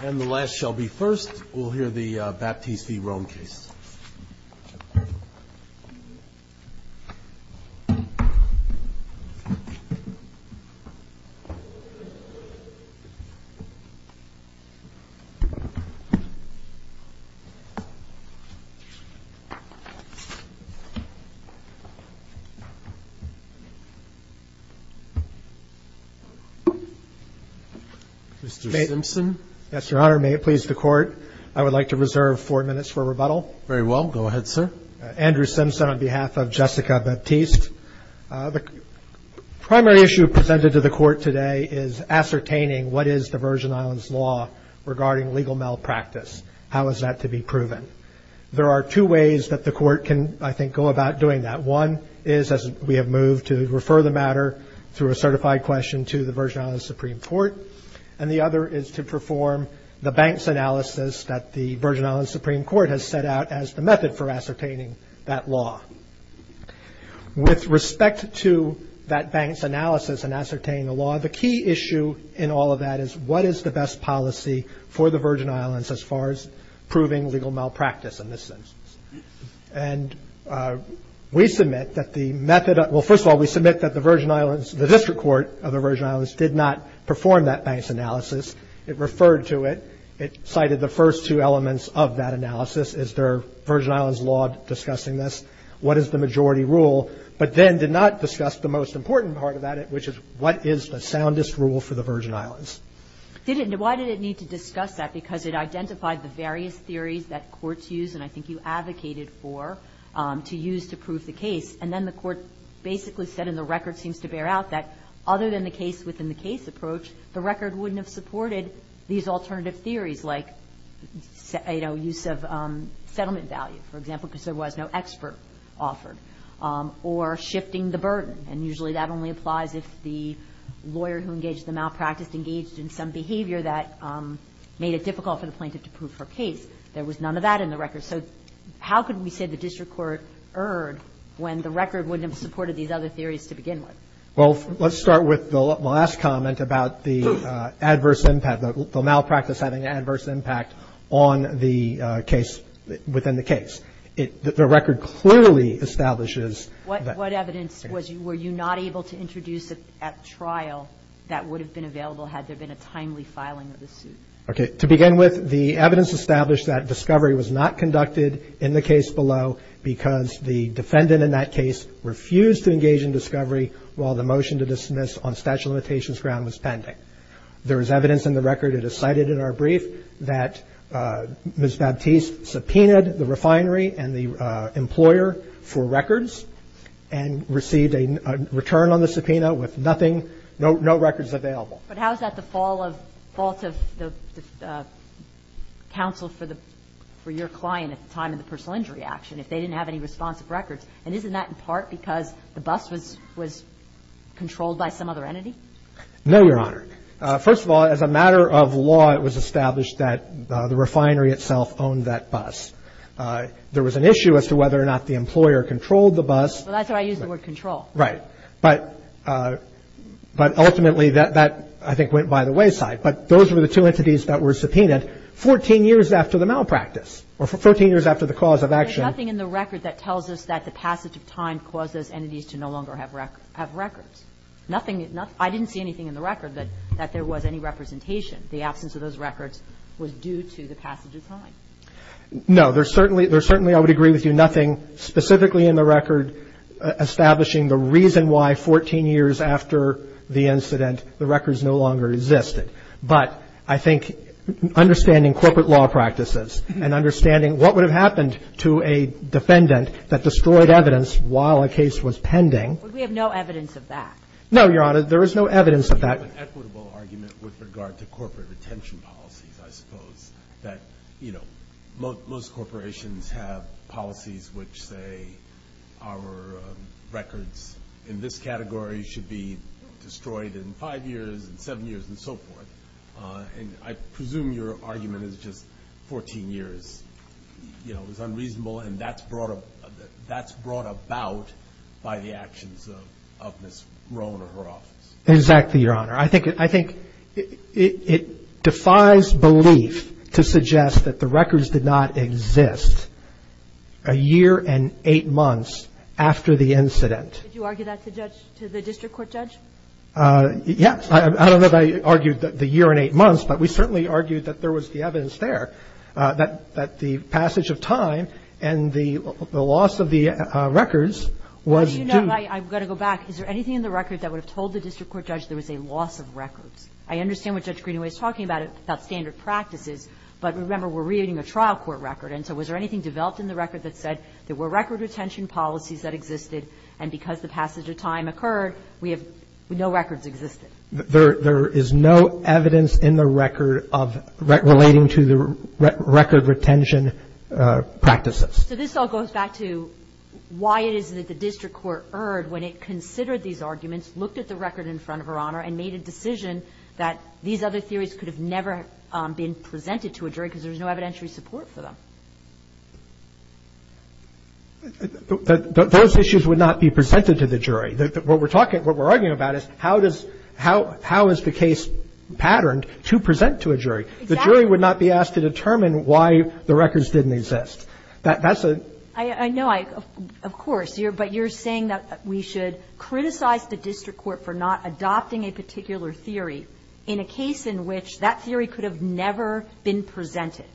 And the last shall be first. We'll hear the Baptiste v. Rohn case. Mr. Simpson Yes, Your Honor. May it please the court. I would like to reserve four minutes for rebuttal. Mr. Rohn Very well. Go ahead, sir. Mr. Simpson Andrew Simpson on behalf of Jessica Baptiste. The primary issue presented to the court today is ascertaining what is the Virgin Islands law regarding legal malpractice. How is that to be proven? There are two ways that the court can, I think, go about doing that. One is, as we have moved, to refer the matter through a certified question to the Virgin Islands Supreme Court. And the other is to what the court has set out as the method for ascertaining that law. With respect to that bank's analysis in ascertaining the law, the key issue in all of that is what is the best policy for the Virgin Islands as far as proving legal malpractice in this instance. And we submit that the method, well, first of all, we submit that the Virgin Islands, the district court of the Virgin Islands did not perform that bank's analysis. It referred to it. It cited the first two elements of that analysis. Is there Virgin Islands law discussing this? What is the majority rule? But then did not discuss the most important part of that, which is what is the soundest rule for the Virgin Islands? Ms. Lubchenco Why did it need to discuss that? Because it identified the various theories that courts use, and I think you advocated for, to use to prove the case. And then the court basically said, and the record seems to bear out, that other than the case within the case approach, the record wouldn't have supported these alternative theories like, you know, use of settlement value, for example, because there was no expert offered, or shifting the burden. And usually that only applies if the lawyer who engaged the malpractice engaged in some behavior that made it difficult for the plaintiff to prove her case. There was none of that in the record. So how could we say the district court erred when the record wouldn't have supported these other theories to begin with? Mr. Kovner Well, let's start with the last comment about the adverse impact, the malpractice having an adverse impact on the case within the case. The record clearly establishes that Ms. Lubchenco What evidence were you not able to introduce at trial that would have been available had there been a timely filing of the suit? Mr. Kovner Okay. To begin with, the evidence established that discovery was not conducted in the case below because the defendant in that case refused to engage in discovery while the motion to dismiss on statute of limitations ground was pending. There is evidence in the record, it is cited in our brief, that Ms. Baptiste subpoenaed the refinery and the employer for records and received a return on the subpoena with nothing, no records available. Ms. Lubchenco But how is that the fault of the counsel for your client at the time of the personal injury action if they didn't have any responsive records? And isn't that in part because the bus was controlled by some other entity? Mr. Kovner No, Your Honor. First of all, as a matter of law, it was established that the refinery itself owned that bus. There was an issue as to whether or not the employer controlled the bus. Ms. Lubchenco Well, that's why I used the word control. Mr. Kovner Right. But ultimately, that, I think, went by the wayside. But those were the two entities that were subpoenaed 14 years after the malpractice or 14 years after the cause of action. Ms. Lubchenco There's nothing in the record that tells us that the passage of time caused those entities to no longer have records. Nothing, I didn't see anything in the record that there was any representation. The absence of those records was due to the passage of time. Mr. Kovner No. There's certainly, I would agree with you, nothing specifically in the record establishing the reason why 14 years after the incident the records no longer existed. But I think understanding corporate law practices and understanding what would have happened to a defendant that destroyed evidence while a case was pending Ms. Lubchenco But we have no evidence of that. Mr. Kovner No, Your Honor. There is no evidence of that. Mr. Kovner I think you have an equitable argument with regard to corporate retention policies, I suppose, that most corporations have policies which say our records in this category should be destroyed in five years, in seven years, and so forth. And I presume your argument is just 14 years is unreasonable and that's brought about by the actions of Ms. Rohn or her office. Mr. Kovner Exactly, Your Honor. I think it defies belief to suggest that the records did not exist a year and eight months after the incident. Ms. Lubchenco Did you argue that to the district court judge? Mr. Kovner Yes. I don't know if I argued the year and eight months, but we certainly argued that there was the evidence there that the passage of time and the loss of the records was due. Ms. Lubchenco Well, you're not right. I've got to go back. Is there anything in the record that would have told the district court judge there was a loss of records? I understand what Judge Greenaway is talking about, about standard practices, but remember we're reading a trial court record. And so was there anything developed in the record that said there were record retention policies that existed, and because the passage of time occurred, we have no records existing? Mr. Kovner There is no evidence in the record of relating to the record retention practices. Ms. Lubchenco So this all goes back to why it is that the district court erred when it considered these arguments, looked at the record in front of Her Honor, and made a decision that these other theories could have never been presented to a jury because there was no evidentiary support for them. Mr. Kovner Those issues would not be presented to the jury. What we're arguing about is how is the case patterned to present to a jury. The jury would not be asked to determine why the records didn't exist. That's a Ms. Lubchenco I know, of course, but you're saying that we should criticize the district court for not adopting a particular theory in a case in which that theory could have never been presented.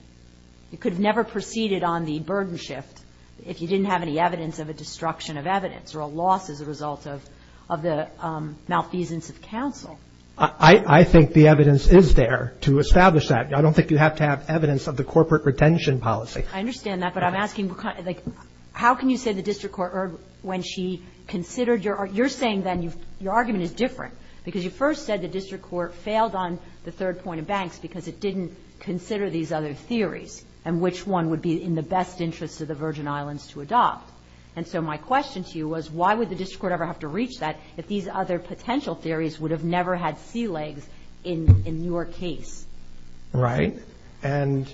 It could have never proceeded on the burden shift if you didn't have any evidence of a destruction of evidence or a loss as a result of the malfeasance of counsel. Mr. Kovner I think the evidence is there to establish that. I don't think you have to have evidence of the corporate retention policy. Ms. Lubchenco I understand that, but I'm asking how can you say the district court erred when she considered your argument? You're saying then your argument is different because you first said the district court failed on the third point of Banks because it didn't consider these other theories and which one would be in the best interest of the Virgin Islands to adopt. And so my question to you was why would the district court ever have to reach that if these other potential theories would have never had sea legs in your case? Mr. Kovner Right. And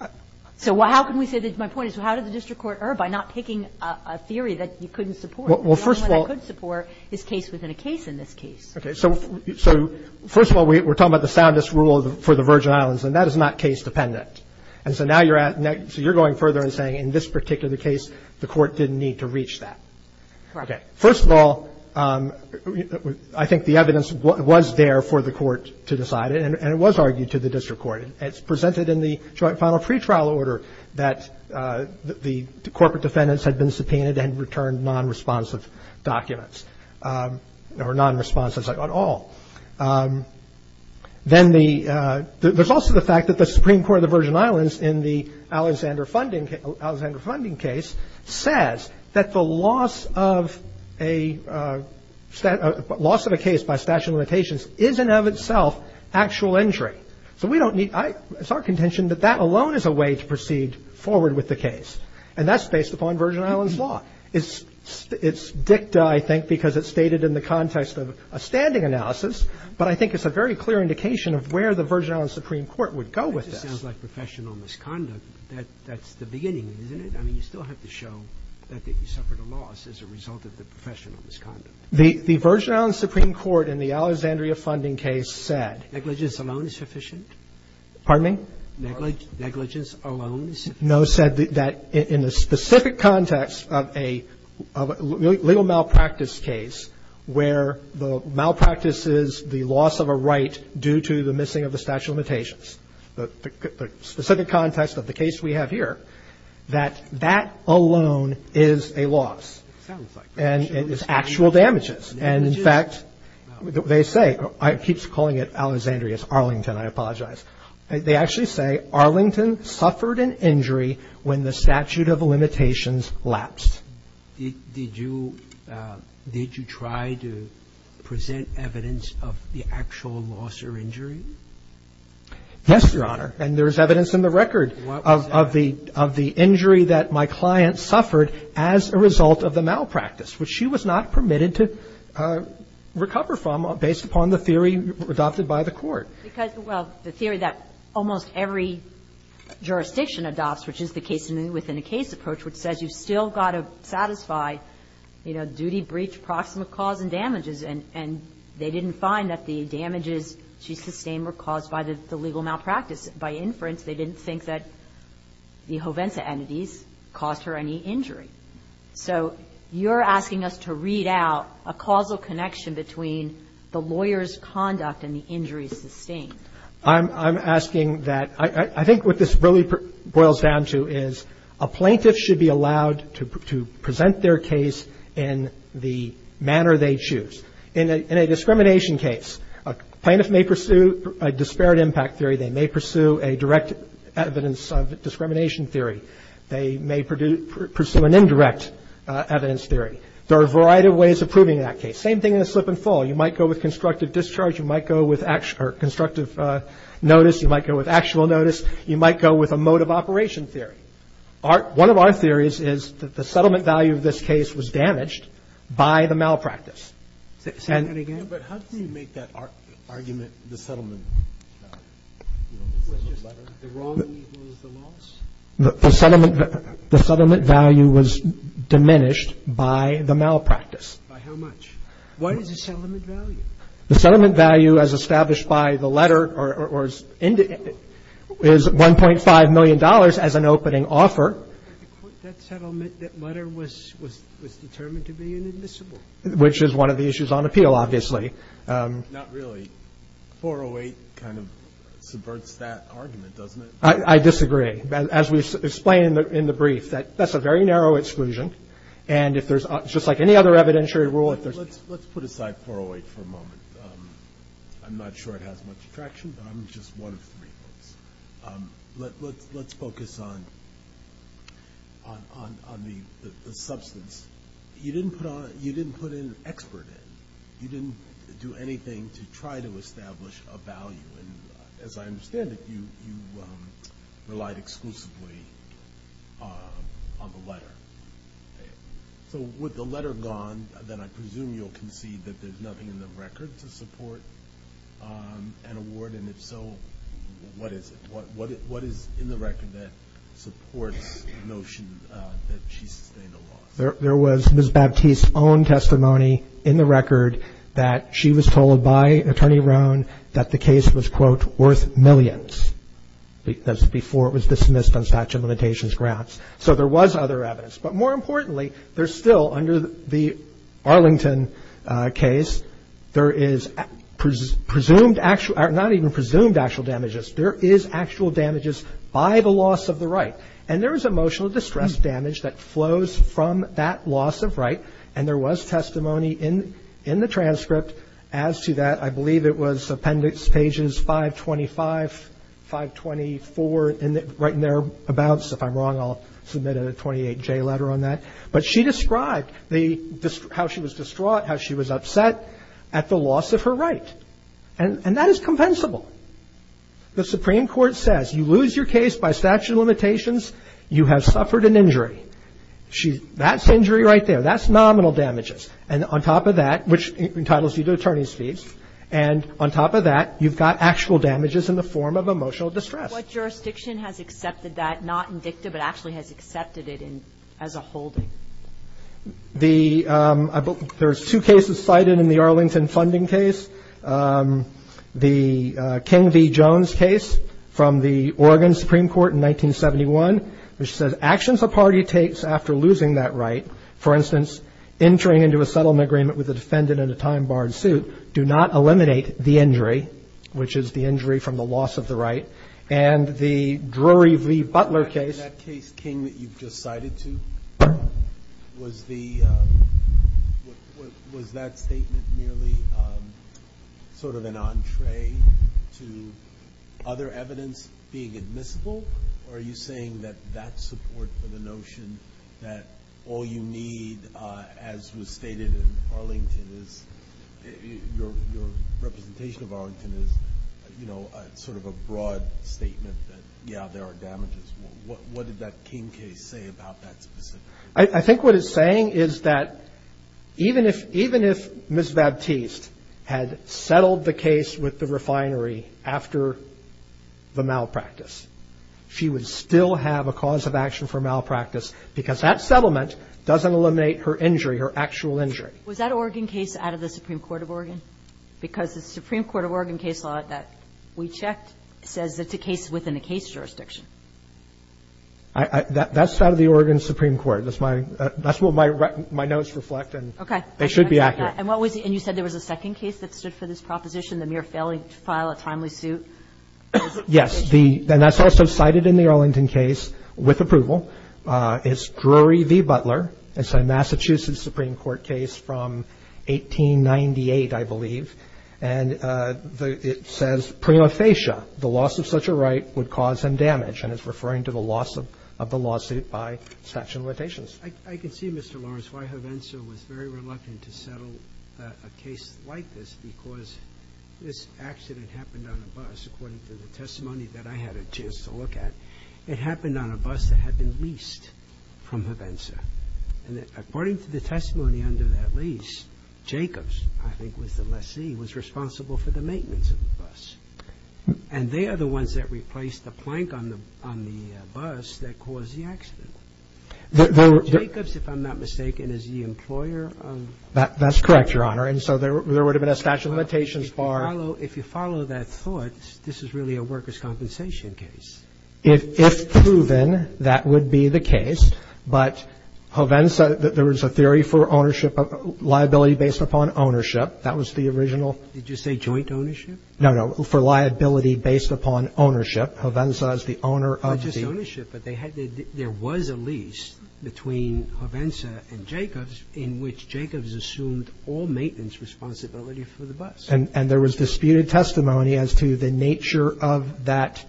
I Ms. Lubchenco So how can we say that my point is how did the district court err by not picking a theory that you couldn't support? Mr. Kovner Well, first of all Ms. Lubchenco The only one I could support is case within a case in this case. Mr. Kovner Okay. So first of all, we're talking about the soundest rule for the Virgin Islands, and that is not case dependent. And so now you're at next so you're going further and saying in this particular case the court didn't need to reach that. Ms. Lubchenco Correct. Mr. Kovner Okay. First of all, I think the evidence was there for the court to decide and it was argued to the district court. It's presented in the joint final pretrial order that the corporate defendants had been subpoenaed and returned non-responsive documents or non-responses at all. Then there's also the fact that the Supreme Court of the Virgin Islands in the Alexander funding case says that the loss of a case by statute of limitations is in of itself actual injury. So we don't need – it's our contention that that alone is a way to proceed forward with the case, and that's based upon Virgin Islands law. It's dicta, I think, because it's stated in the context of a standing analysis, but I think it's a very clear indication of where the Virgin Islands Supreme Court would go with this. Roberts That just sounds like professional misconduct. That's the beginning, isn't it? I mean, you still have to show that you suffered a loss as a result of the professional misconduct. Kagan The Virgin Islands Supreme Court in the Alexandria funding case said Roberts Negligence alone is sufficient? Kagan Pardon me? Roberts Negligence alone is sufficient? Kagan No, said that in the specific context of a legal malpractice case where the malpractice is the loss of a right due to the missing of the statute of limitations, the specific context of the case we have here, that that alone is a loss. Roberts Sounds like professional misconduct. Kagan Negligence. And in fact, they say, I keep calling it Alexandria, it's Arlington, I apologize. They actually say Arlington suffered an injury when the statute of limitations lapsed. Roberts Did you try to present evidence of the actual loss or injury? Kagan Yes, Your Honor, and there's evidence in the record of the injury that my client suffered as a result of the malpractice, which she was not permitted to recover from based upon the theory adopted by the Court. Kagan Because, well, the theory that almost every jurisdiction adopts, which is the case-within-a-case approach, which says you've still got to satisfy, you know, duty, breach, proximate cause, and damages, and they didn't find that the damages she sustained were caused by the legal malpractice. By inference, they didn't think that the jovensa entities caused her any injury. So you're asking us to read out a causal connection between the lawyer's conduct and the injuries sustained. Roberts I'm asking that – I think what this really boils down to is a plaintiff should be allowed to present their case in the manner they choose. In a discrimination case, a plaintiff may pursue a disparate impact theory, they may pursue a direct case, they may pursue an indirect evidence theory. There are a variety of ways of proving that case. Same thing in a slip-and-fall. You might go with constructive discharge, you might go with constructive notice, you might go with actual notice, you might go with a mode-of-operation theory. One of our theories is that the settlement value of this case was damaged by the malpractice. Kagan But how do you make that argument the settlement value? The settlement value was diminished by the malpractice. The settlement value as established by the letter is $1.5 million as an opening offer. Which is one of the issues on appeal, obviously. I disagree. As we explained in the brief, that's a very narrow exclusion. Let's put aside 408 for a moment. I'm not sure it has much traction, but I'm just one of three. Let's focus on the substance. You didn't put an expert in. You didn't do anything to try to establish a value. As I understand it, you relied exclusively on the letter. With the letter gone, then I presume you'll concede that there's nothing in the record to support an award, and if so, what is it? What is in the record that supports the notion that she sustained a loss? There was Ms. Baptiste's own testimony in the record that she was told by Attorney Rohn that the case was worth millions. That's before it was dismissed on statute of limitations grounds. So there was other evidence. But more importantly, there's still, under the Arlington case, there is presumed, not even presumed, actual damages. There is actual damages by the loss of the right. And there is emotional distress damage that flows from that loss of right, and there was testimony in the transcript as to that. I believe it was appendix pages 525, 524, right in there abouts. If I'm wrong, I'll submit a 28J letter on that. But she described how she was distraught, how she was upset at the loss of her right. And that is compensable. The Supreme Court says, you lose your case by statute of limitations. You have suffered an injury. That's injury right there. That's nominal damages. And on top of that, which entitles you to attorney's fees. And on top of that, you've got actual damages in the form of emotional distress. What jurisdiction has accepted that, not indicative, but actually has accepted it as a holding? There's two cases cited in the Arlington funding case. The King v. Jones case from the Oregon Supreme Court in 1971, which says actions a party takes after losing that right, for instance, entering into a settlement agreement with a defendant in a time-barred suit, do not eliminate the injury, which is the injury from the loss of the right. And the Drury v. Butler case... Was that statement merely sort of an entree to other evidence being admissible? Or are you saying that that support for the notion that all you need, as was stated in Arlington, your representation of Arlington, is sort of a broad statement that, yeah, there are damages? What did that King case say about that specifically? I think what it's saying is that even if Ms. Baptiste had settled the case with the refinery after the malpractice, she would still have a cause of action for malpractice, because that settlement doesn't eliminate her injury, her actual injury. Was that Oregon case out of the Supreme Court of Oregon? Because the Supreme Court of Oregon case law that we checked says it's a case within a case jurisdiction. That's out of the Oregon Supreme Court. That's what my notes reflect, and they should be accurate. And you said there was a second case that stood for this proposition, the mere failing to file a timely suit? Yes. And that's also cited in the Arlington case with approval. It's Drury v. Butler. It's a Massachusetts Supreme Court case from 1898, I believe. And it says, prima facie, the loss of such a right would cause him damage, and it's referring to the loss of the lawsuit by satchel notations. I can see, Mr. Lawrence, why Hovenzo was very reluctant to settle a case like this, because this accident happened on a bus, according to the testimony that I had a chance to look at. It happened on a bus that had been leased from Hovenzo. And according to the testimony under that lease, Jacobs, I think was the lessee, was responsible for the maintenance of the bus. And they are the ones that replaced the plank on the bus that caused the accident. Jacobs, if I'm not mistaken, is the employer of the bus? That's correct, Your Honor. And so there would have been a satchel notations bar. Well, if you follow that thought, this is really a workers' compensation case. If proven, that would be the case. But Hovenzo, there was a theory for ownership of liability based upon ownership. That was the original. Did you say joint ownership? No, no, for liability based upon ownership. Hovenzo is the owner of the... Not just ownership, but there was a lease between Hovenzo and Jacobs in which Jacobs assumed all maintenance responsibility for the bus. And there was disputed testimony as to the nature of that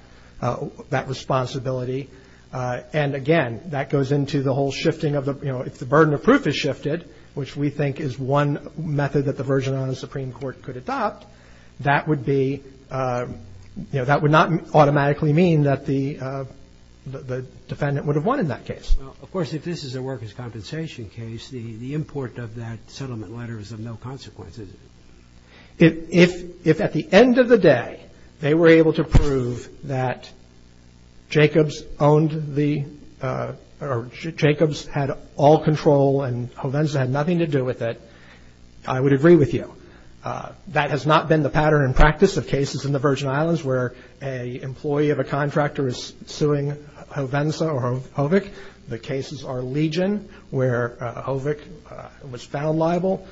responsibility. And again, that goes into the whole shifting of the, you know, if the burden of proof is shifted, which we think is one method that the version on the Supreme Court could adopt, that would be, you know, that would not automatically mean that the defendant would have won in that case. Well, of course, if this is a workers' compensation case, the import of that settlement letter is of no consequence, is it? If at the end of the day, they were able to prove that Jacobs owned the, or Jacobs had all control and Hovenzo had nothing to do with it, I would agree with you. That has not been the pattern in practice of cases in the Virgin Islands where an employee of a contractor is suing Hovenzo or Hovic. The cases are Legion where Hovic was found liable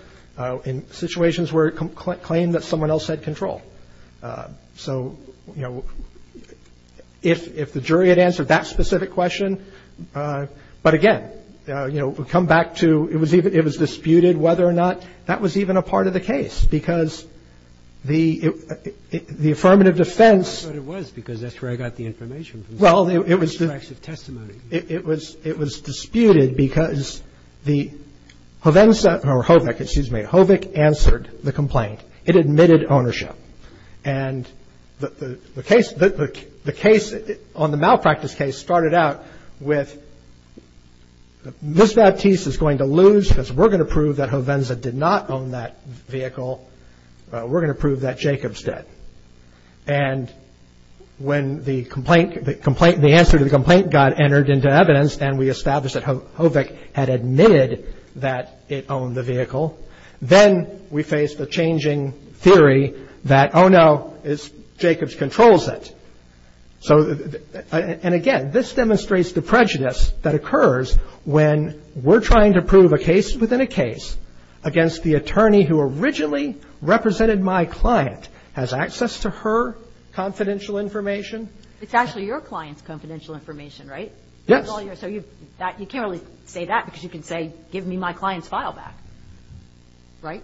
in situations where it claimed that someone else had control. So, you know, if the jury had answered that specific question, but again, you know, we come back to, it was disputed whether or not that was even a part of the case because the affirmative defense. I thought it was because that's where I got the information from. Well, it was. Extracts of testimony. It was disputed because the Hovenzo or Hovic, excuse me, Hovic answered the complaint. It admitted ownership. And the case on the malpractice case started out with Ms. Baptiste is going to lose because we're going to prove that Hovenzo did not own that vehicle. We're going to prove that Jacobs did. And when the answer to the complaint got entered into evidence and we established that Hovic had admitted that it owned the vehicle, then we faced a changing theory that, oh no, Jacobs controls it. And again, this demonstrates the prejudice that occurs when we're trying to prove a case within a case against the attorney who originally represented my client has access to her confidential information. It's actually your client's confidential information, right? Yes. So you can't really say that because you can say give me my client's file back, right?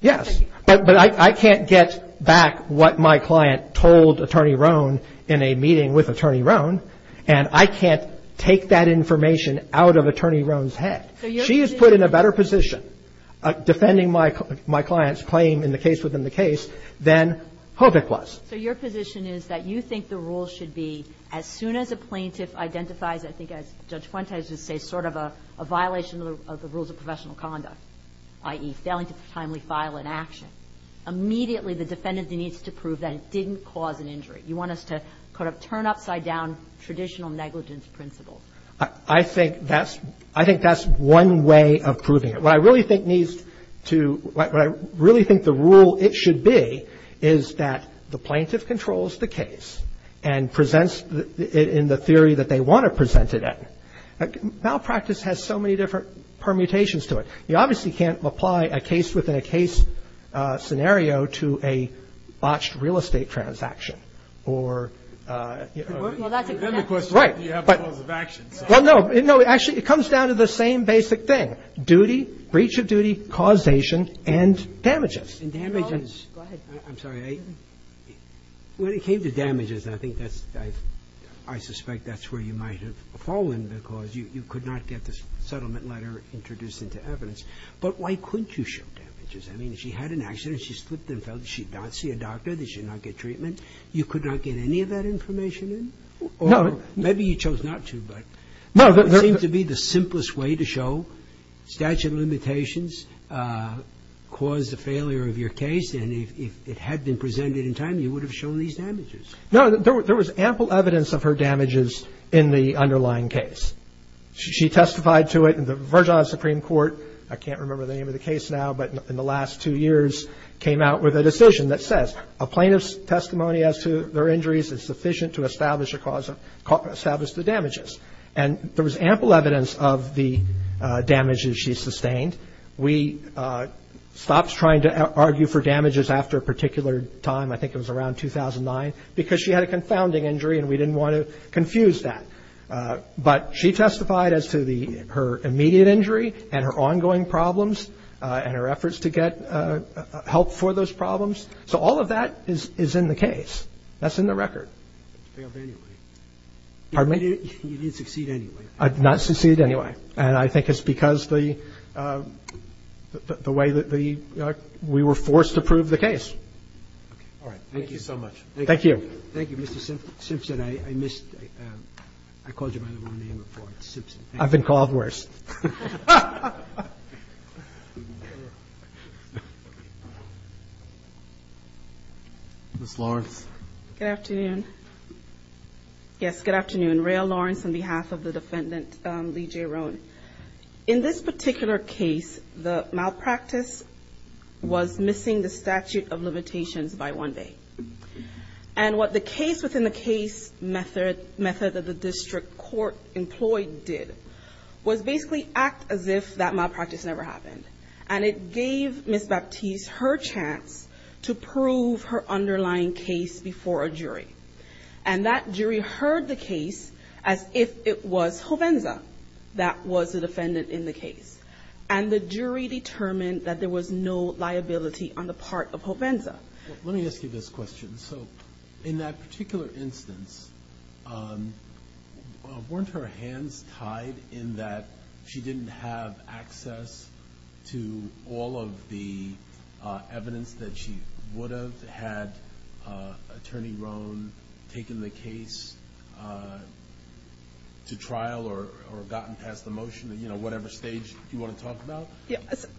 Yes. But I can't get back what my client told Attorney Rohn in a meeting with Attorney Rohn. And I can't take that information out of Attorney Rohn's head. She is put in a better position defending my client's claim in the case within the case than Hovic was. So your position is that you think the rule should be as soon as a plaintiff identifies, I think as Judge Fuentes would say, sort of a violation of the rules of professional conduct, i.e. failing to timely file an action, immediately the defendant needs to prove that it didn't cause an injury. You want us to kind of turn upside down traditional negligence principles. I think that's one way of proving it. What I really think needs to, what I really think the rule it should be is that the plaintiff controls the case and presents it in the theory that they want to present it in. Malpractice has so many different permutations to it. You obviously can't apply a case-within-a-case scenario to a botched real estate transaction or Well, that's a good question. Right. Do you have the rules of action? Well, no. Actually, it comes down to the same basic thing. Duty, breach of duty, causation, and damages. And damages. Go ahead. I'm sorry. When it came to damages, I think that's, I suspect that's where you might have fallen because you could not get the settlement letter introduced into evidence. But why couldn't you show damages? I mean, she had an accident. She slipped and fell. She did not see a doctor. They should not get treatment. You could not get any of that information in? No. Maybe you chose not to, but it seems to be the simplest way to show statute of limitations caused the failure of your case. And if it had been presented in time, you would have shown these damages. No. There was ample evidence of her damages in the underlying case. She testified to it in the Virginia Supreme Court. I can't remember the name of the case now, but in the last two years, came out with a decision that says a plaintiff's testimony as to their injuries is sufficient to establish the damages. And there was ample evidence of the damages she sustained. We stopped trying to argue for damages after a particular time. I think it was around 2009, because she had a confounding injury and we didn't want to confuse that. But she testified as to her immediate injury and her ongoing problems and her efforts to get help for those problems. So all of that is in the case. That's in the record. You failed anyway. Pardon me? You didn't succeed anyway. I did not succeed anyway. And I think it's because the way that we were forced to prove the case. All right. Thank you so much. Thank you. Thank you, Mr. Simpson. I missed. I called you by the wrong name before. It's Simpson. I've been called worse. Ms. Lawrence. Good afternoon. Yes, good afternoon. Raelle Lawrence on behalf of the defendant, Lee J. Roan. In this particular case, the malpractice was missing the statute of limitations by one day. And what the case within the case method of the district court employed did was basically act as if that malpractice never happened. And it gave Ms. Baptiste her chance to prove her underlying case before a jury. And that jury heard the case as if it was Jovenza that was the defendant in the case. And the jury determined that there was no liability on the part of Jovenza. Let me ask you this question. So in that particular instance, weren't her hands tied in that she didn't have access to all of the evidence that she would've had Attorney Roan taking the case to trial or gotten past the motion, you know, whatever stage you want to talk about?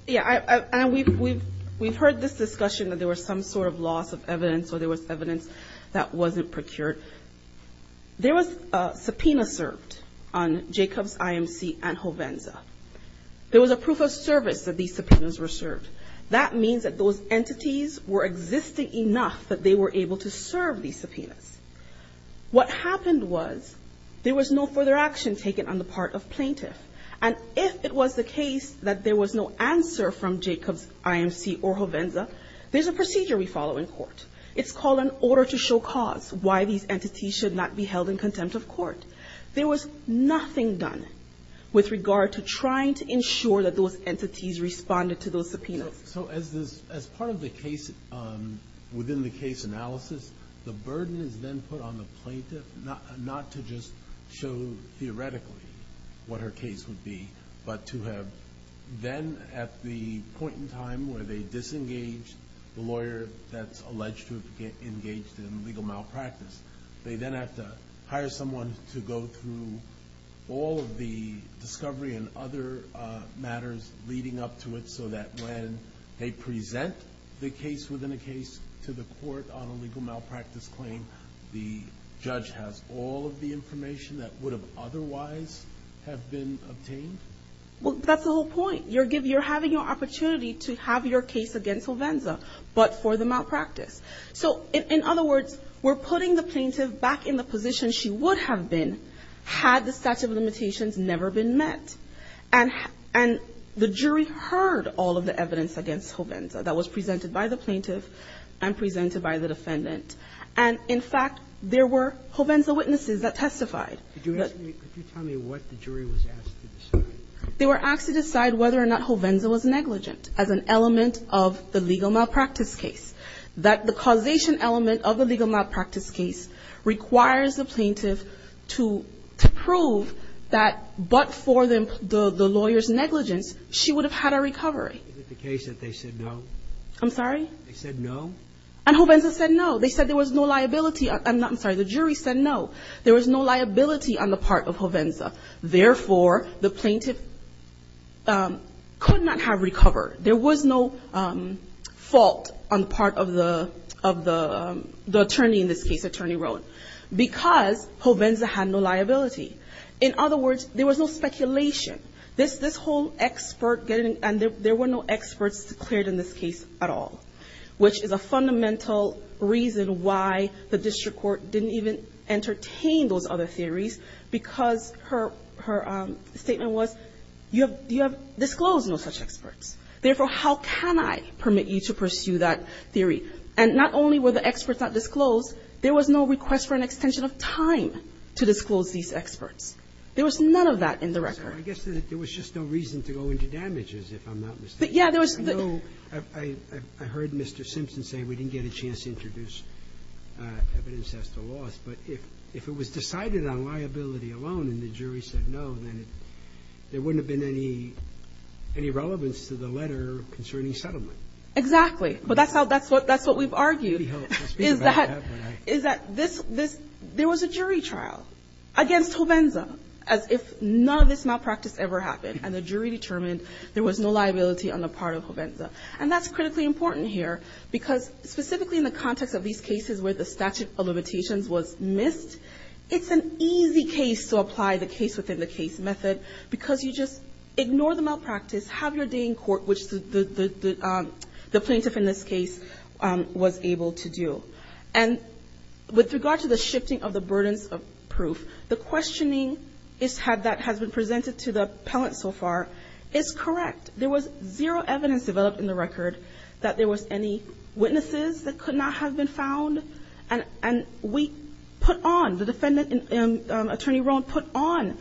Yeah, and we've heard this discussion that there was some sort of loss of evidence or there was evidence that wasn't procured. There was a subpoena served on Jacobs, IMC, and Jovenza. There was a proof of service that these subpoenas were served. That means that those entities were existing enough that they were able to serve these subpoenas. What happened was there was no further action taken on the part of plaintiff. And if it was the case that there was no answer from Jacobs, IMC, or Jovenza, there's a procedure we follow in court. It's called an order to show cause, why these entities should not be held in contempt of court. There was nothing done with regard to trying to ensure that those entities responded to those subpoenas. So as part of the case, within the case analysis, the burden is then put on the plaintiff not to just show theoretically what her case would be, but to have then at the point in time where they disengage the lawyer that's alleged to have engaged in legal malpractice. They then have to hire someone to go through all of the discovery and other matters leading up to it so that when they present the case within a case to the court on a legal malpractice claim, the judge has all of the information that would have otherwise have been obtained. Well, that's the whole point. You're having an opportunity to have your case against Jovenza, but for the malpractice. So in other words, we're putting the plaintiff back in the position she would have been had the statute of limitations never been met. And the jury heard all of the evidence against Jovenza that was presented by the plaintiff and presented by the defendant. And, in fact, there were Jovenza witnesses that testified. Could you tell me what the jury was asked to decide? They were asked to decide whether or not Jovenza was negligent as an element of the legal malpractice case, that the causation element of the legal malpractice case requires the plaintiff to prove that, but for the lawyer's negligence, she would have had a recovery. Is it the case that they said no? I'm sorry? They said no? And Jovenza said no. They said there was no liability on the part of Jovenza. Therefore, the plaintiff could not have recovered. There was no fault on the part of the attorney in this case, attorney Rohn, because Jovenza had no liability. In other words, there was no speculation. This whole expert, and there were no experts declared in this case at all, which is a fundamental reason why the district court didn't even entertain those other theories, because her statement was, you have disclosed no such experts. Therefore, how can I permit you to pursue that theory? And not only were the experts not disclosed, there was no request for an extension of time to disclose these experts. There was none of that in the record. I guess there was just no reason to go into damages, if I'm not mistaken. Yes, there was. I know I heard Mr. Simpson say we didn't get a chance to introduce evidence as to loss. But if it was decided on liability alone and the jury said no, then there wouldn't have been any relevance to the letter concerning settlement. Exactly. But that's how we've argued. Is that there was a jury trial against Jovenza, as if none of this malpractice ever happened, and the jury determined there was no liability on the part of Jovenza. And that's critically important here, because specifically in the context of these cases where the statute of limitations was missed, it's an easy case to apply the case within the case method, because you just ignore the malpractice, have your day in court, which the plaintiff in this case was able to do. And with regard to the shifting of the burdens of proof, the questioning that has been presented to the appellant so far is correct. There was zero evidence developed in the record that there was any witnesses that could not have been found. And we put on, the defendant, Attorney Rohn, put on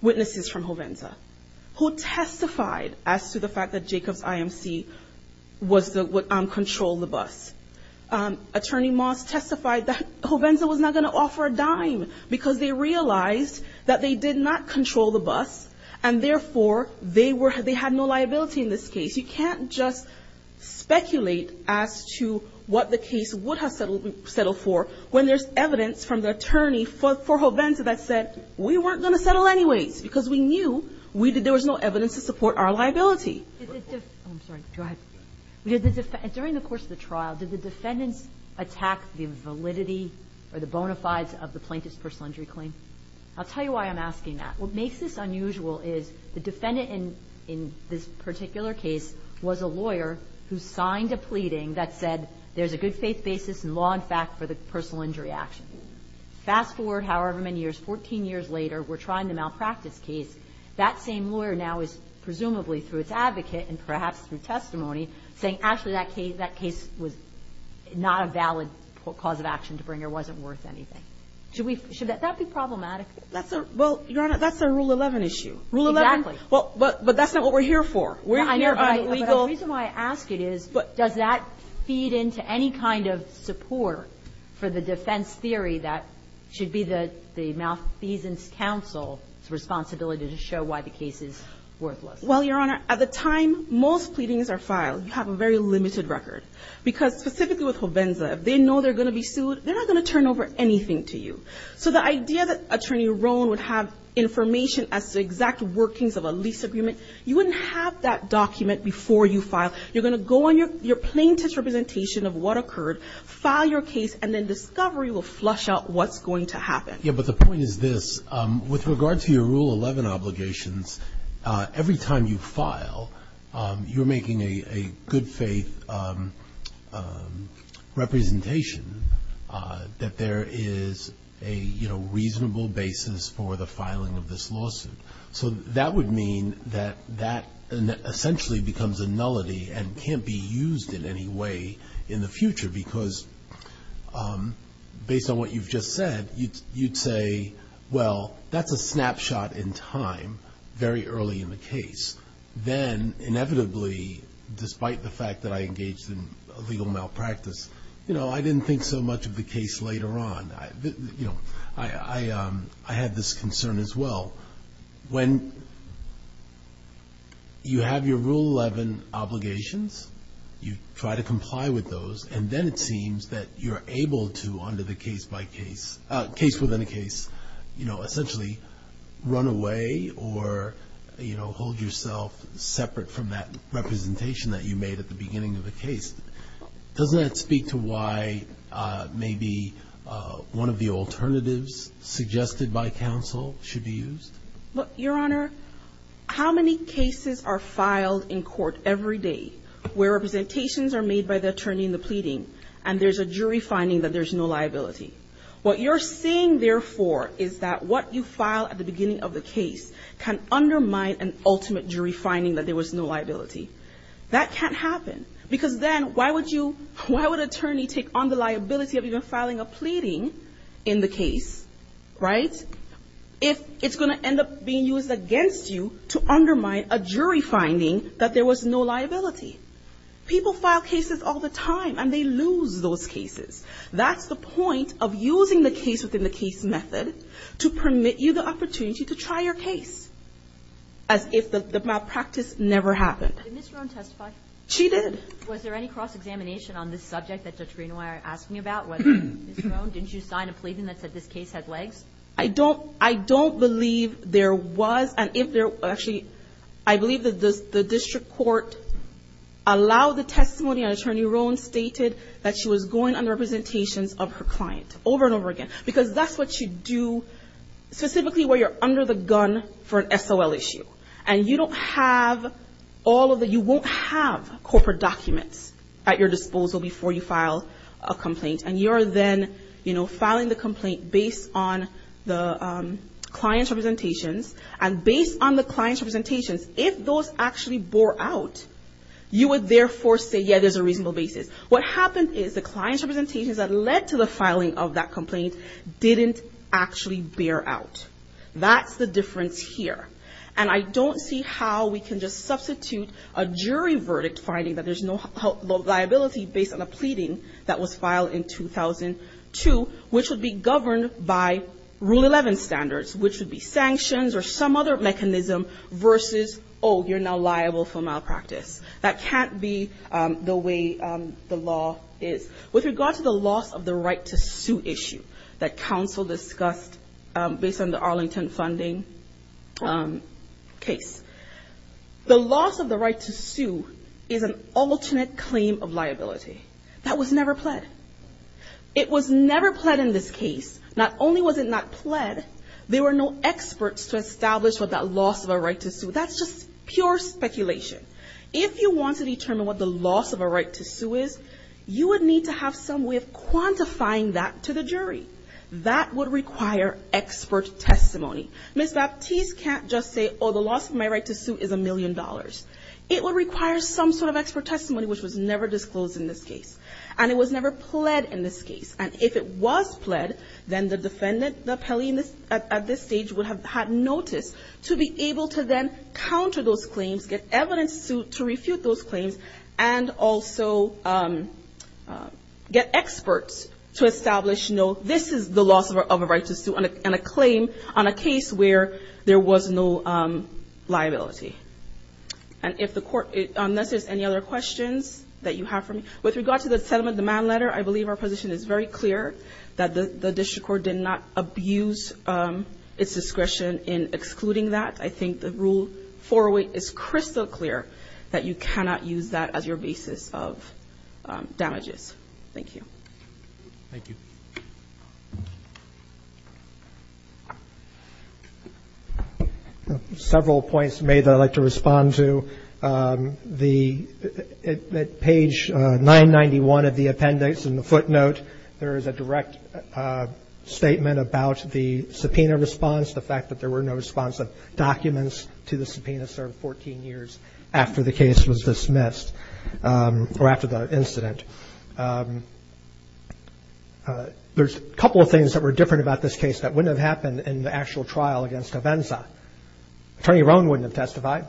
witnesses from Jovenza who testified as to the fact that Jacob's IMC controlled the bus. Attorney Moss testified that Jovenza was not going to offer a dime, because they realized that they did not control the bus, and therefore, they had no liability in this case. You can't just speculate as to what the case would have settled for when there's evidence from the attorney for Jovenza that said, we weren't going to settle anyways, because we knew there was no evidence to support our liability. During the course of the trial, did the defendants attack the validity or the bona fides of the plaintiff's personal injury claim? I'll tell you why I'm asking that. What makes this unusual is the defendant in this particular case was a lawyer who signed a pleading that said, there's a good faith basis in law and fact for the personal injury action. Fast forward however many years, 14 years later, we're trying the malpractice case. That same lawyer now is, presumably through its advocate and perhaps through testimony, saying actually that case was not a valid cause of action to bring or wasn't worth anything. Should that be problematic? Well, Your Honor, that's a Rule 11 issue. Exactly. Rule 11? But that's not what we're here for. I know, but the reason why I ask it is, does that feed into any kind of support for the defense theory that should be the malfeasance counsel's responsibility to show why the case is worthless? Well, Your Honor, at the time, most pleadings are filed. You have a very limited record. Because specifically with Hovenza, if they know they're going to be sued, they're not going to turn over anything to you. So the idea that Attorney Roland would have information as to exact workings of a lease agreement, you wouldn't have that document before you file. You're going to go on your plaintiff's representation of what occurred, file your case, and then discovery will flush out what's going to happen. Yeah, but the point is this. With regard to your Rule 11 obligations, every time you file, you're making a good faith representation that there is a reasonable basis for the filing of this lawsuit. So that would mean that that essentially becomes a nullity and can't be used in any way in the future. Because based on what you've just said, you'd say, well, that's a snapshot in time, very early in the case. Then, inevitably, despite the fact that I engaged in legal malpractice, I didn't think so much of the case later on. I had this concern as well. When you have your Rule 11 obligations, you try to comply with those, and then it seems that you're able to, under the case-by-case, case-within-a-case, essentially run away or hold yourself separate from that representation that you made at the beginning of the case. Doesn't that speak to why maybe one of the alternatives suggested by counsel should be used? Your Honor, how many cases are filed in court every day where representations are made by the attorney in the pleading, and there's a jury finding that there's no liability? What you're saying, therefore, is that what you file at the beginning of the case can undermine an ultimate jury finding that there was no liability. That can't happen. Because then why would you, why would an attorney take on the liability of even filing a pleading in the case, right, if it's going to end up being used against you to undermine a jury finding that there was no liability? People file cases all the time, and they lose those cases. That's the point of using the case-within-the-case method to permit you the opportunity to try your case, as if the malpractice never happened. Did Ms. Roan testify? She did. Was there any cross-examination on this subject that Judge Greenwyer asked me about, whether Ms. Roan, didn't you sign a pleading that said this case had legs? I don't believe there was, and if there, actually, I believe that the district court allowed the testimony, and Attorney Roan stated that she was going under representations of her client over and over again. Because that's what you do, specifically where you're under the gun for an SOL issue. And you don't have all of the, you won't have corporate documents at your disposal before you file a plea, the client's representations. And based on the client's representations, if those actually bore out, you would, therefore, say, yeah, there's a reasonable basis. What happened is the client's representations that led to the filing of that complaint didn't actually bear out. That's the difference here. And I don't see how we can just substitute a jury verdict finding that there's no liability based on a pleading that was filed in 2002, which would be governed by Rule 11 standards, which would be sanctions or some other mechanism versus, oh, you're now liable for malpractice. That can't be the way the law is. With regard to the loss of the right to sue issue that counsel discussed based on the Arlington funding case, the loss of the right to sue is an alternate claim of liability. That was never pled. It was never pled in this case. Not only was it not pled, there were no experts to establish what that loss of a right to sue, that's just pure speculation. If you want to determine what the loss of a right to sue is, you would need to have some way of quantifying that to the jury. That would require expert testimony. Ms. Baptiste can't just say, oh, the loss of my right to sue was never disclosed in this case. And it was never pled in this case. And if it was pled, then the defendant, the appellee at this stage would have had notice to be able to then counter those claims, get evidence to refute those claims, and also get experts to establish, no, this is the loss of a right to sue and a claim on a case where there was no liability. And if the court, unless there's any other questions that you have for me, with regard to the settlement demand letter, I believe our position is very clear that the district court did not abuse its discretion in excluding that. I think the rule 408 is crystal clear that you cannot use that as your basis of damages. Thank you. Thank you. Several points made that I'd like to respond to. At page 991 of the appendix in the footnote, there is a direct statement about the subpoena response, the fact that there were no responsive documents to the subpoena served 14 years after the case was dismissed, or after the incident. There's a couple of things that were different about this case that wouldn't have happened in the actual trial against Hovenza. Attorney Rohn wouldn't have testified,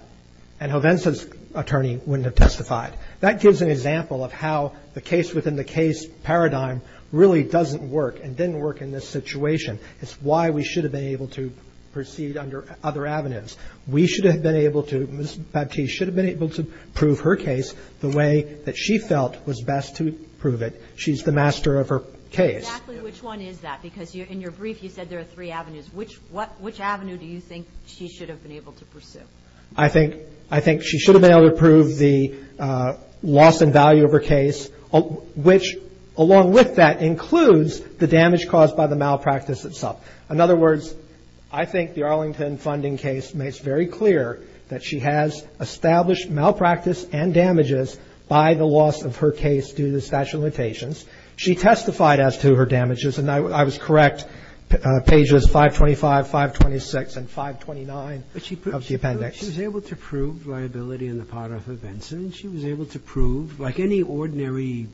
and Hovenza's attorney wouldn't have testified. That gives an example of how the case within the case paradigm really doesn't work and didn't work in this situation. It's why we should have been able to proceed under other avenues. We should have been able to proceed under other avenues. I think she should have been able to prove the loss in value of her case, which, along with that, includes the damage caused by the malpractice itself. In other words, I think the Arlington funding case makes very clear that she has established malpractice and damages by the loss of her case due to the statute of limitations. She testified as to her damages, and I was correct, pages 525, 526, and 529 of the appendix. But she was able to prove liability on the part of Hovenza, and she was able to prove, like any ordinary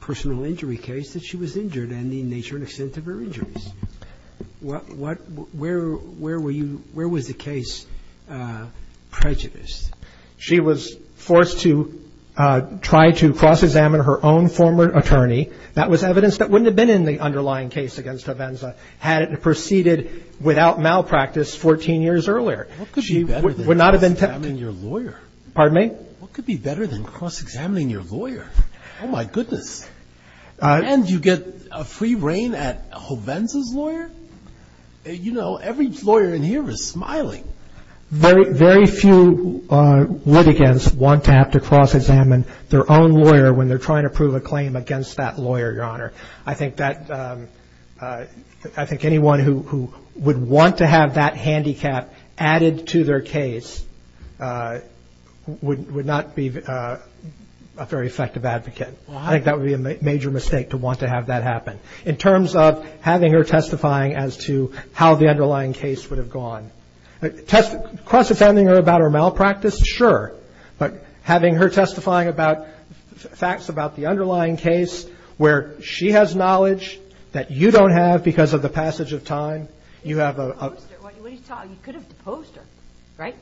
personal injury case, that she was injured and the nature and extent of her injuries. What – where were you – where was the case prejudiced? She was forced to try to cross-examine her own former attorney. That was evidence that wouldn't have been in the underlying case against Hovenza had it proceeded without malpractice 14 years earlier. What could be better than cross-examining your lawyer? Pardon me? What could be better than cross-examining your lawyer? Oh, my goodness. And you get a free reign at Hovenza's lawyer? You know, every lawyer in here is smiling. Very few litigants want to have to cross-examine their own lawyer when they're trying to prove a claim against that lawyer, Your Honor. I think that – I think anyone who would want to have that handicap added to their case would not be a very effective advocate. I think that would be a major mistake to want to have that happen. In terms of having her testifying as to how the underlying case would have gone. Cross-examining her about her malpractice, sure. But having her testifying about facts about the underlying case where she has knowledge that you don't have because of the passage of time, you have a – You could have deposed her, right?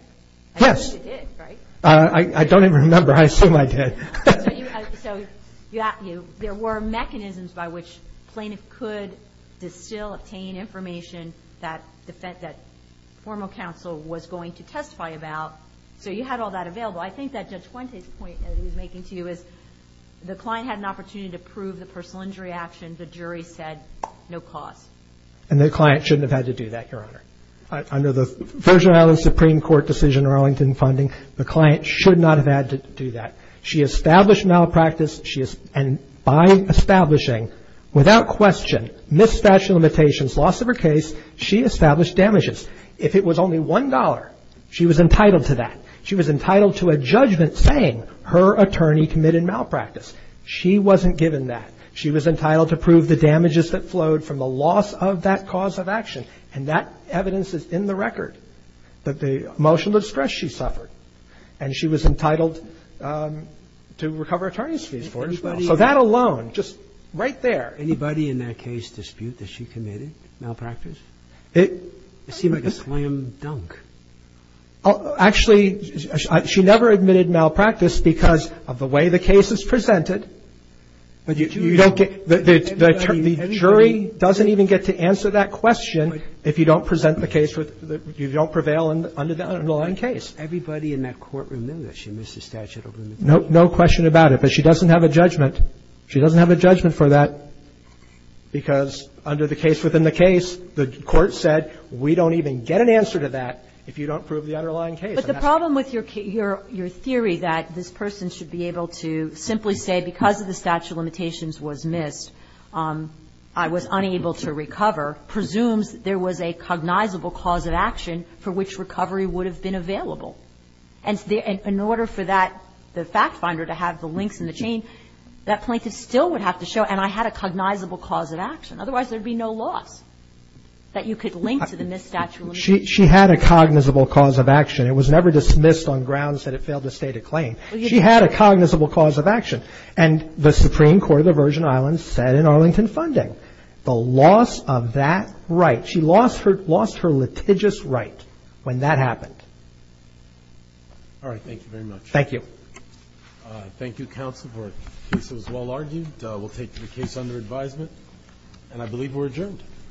Yes. I assume you did, right? I don't even remember. I assume I did. So there were mechanisms by which plaintiff could distill, obtain information that formal counsel was going to testify about. So you had all that available. I think that Judge Fuente's point that he was making to you is the client had an opportunity to prove the personal injury action. The jury said, no cause. And the client shouldn't have had to do that, Your Honor. Under the Virgin Islands Supreme Court decision, Arlington funding, the client should not have had to do that. She established malpractice. And by establishing, without question, misstatement of limitations, loss of her case, she established damages. If it was only $1, she was entitled to that. She was entitled to a judgment saying her attorney committed malpractice. She wasn't given that. She was entitled to prove the damages that flowed from the loss of that cause of action. And that evidence is in the record that the emotional distress she suffered. And she was entitled to recover attorney's fees for it as well. So that alone, just right there. Anybody in that case dispute that she committed malpractice? It seemed like a slam dunk. Actually, she never admitted malpractice because of the way the case is presented. But you don't get the jury doesn't even get to answer that question if you don't present the case, you don't prevail under the underlying case. Everybody in that courtroom knew that she missed the statute of limitations. No question about it. But she doesn't have a judgment. She doesn't have a judgment for that because under the case within the case, the court said we don't even get an answer to that if you don't prove the underlying case. But the problem with your theory that this person should be able to simply say because of the statute of limitations was missed, I was unable to recover, presumes there was a cognizable cause of action for which recovery would have been available. And in order for that fact finder to have the links in the chain, that plaintiff still would have to show, and I had a cognizable cause of action. Otherwise, there would be no loss that you could link to the missed statute of limitations. She had a cognizable cause of action. It was never dismissed on grounds that it failed to state a claim. She had a cognizable cause of action. And the Supreme Court of the Virgin Islands said in Arlington Funding, the loss of that right, she lost her litigious right when that happened. All right. Thank you very much. Thank you. Thank you, counsel, for a case that was well argued. We'll take the case under advisement. And I believe we're adjourned.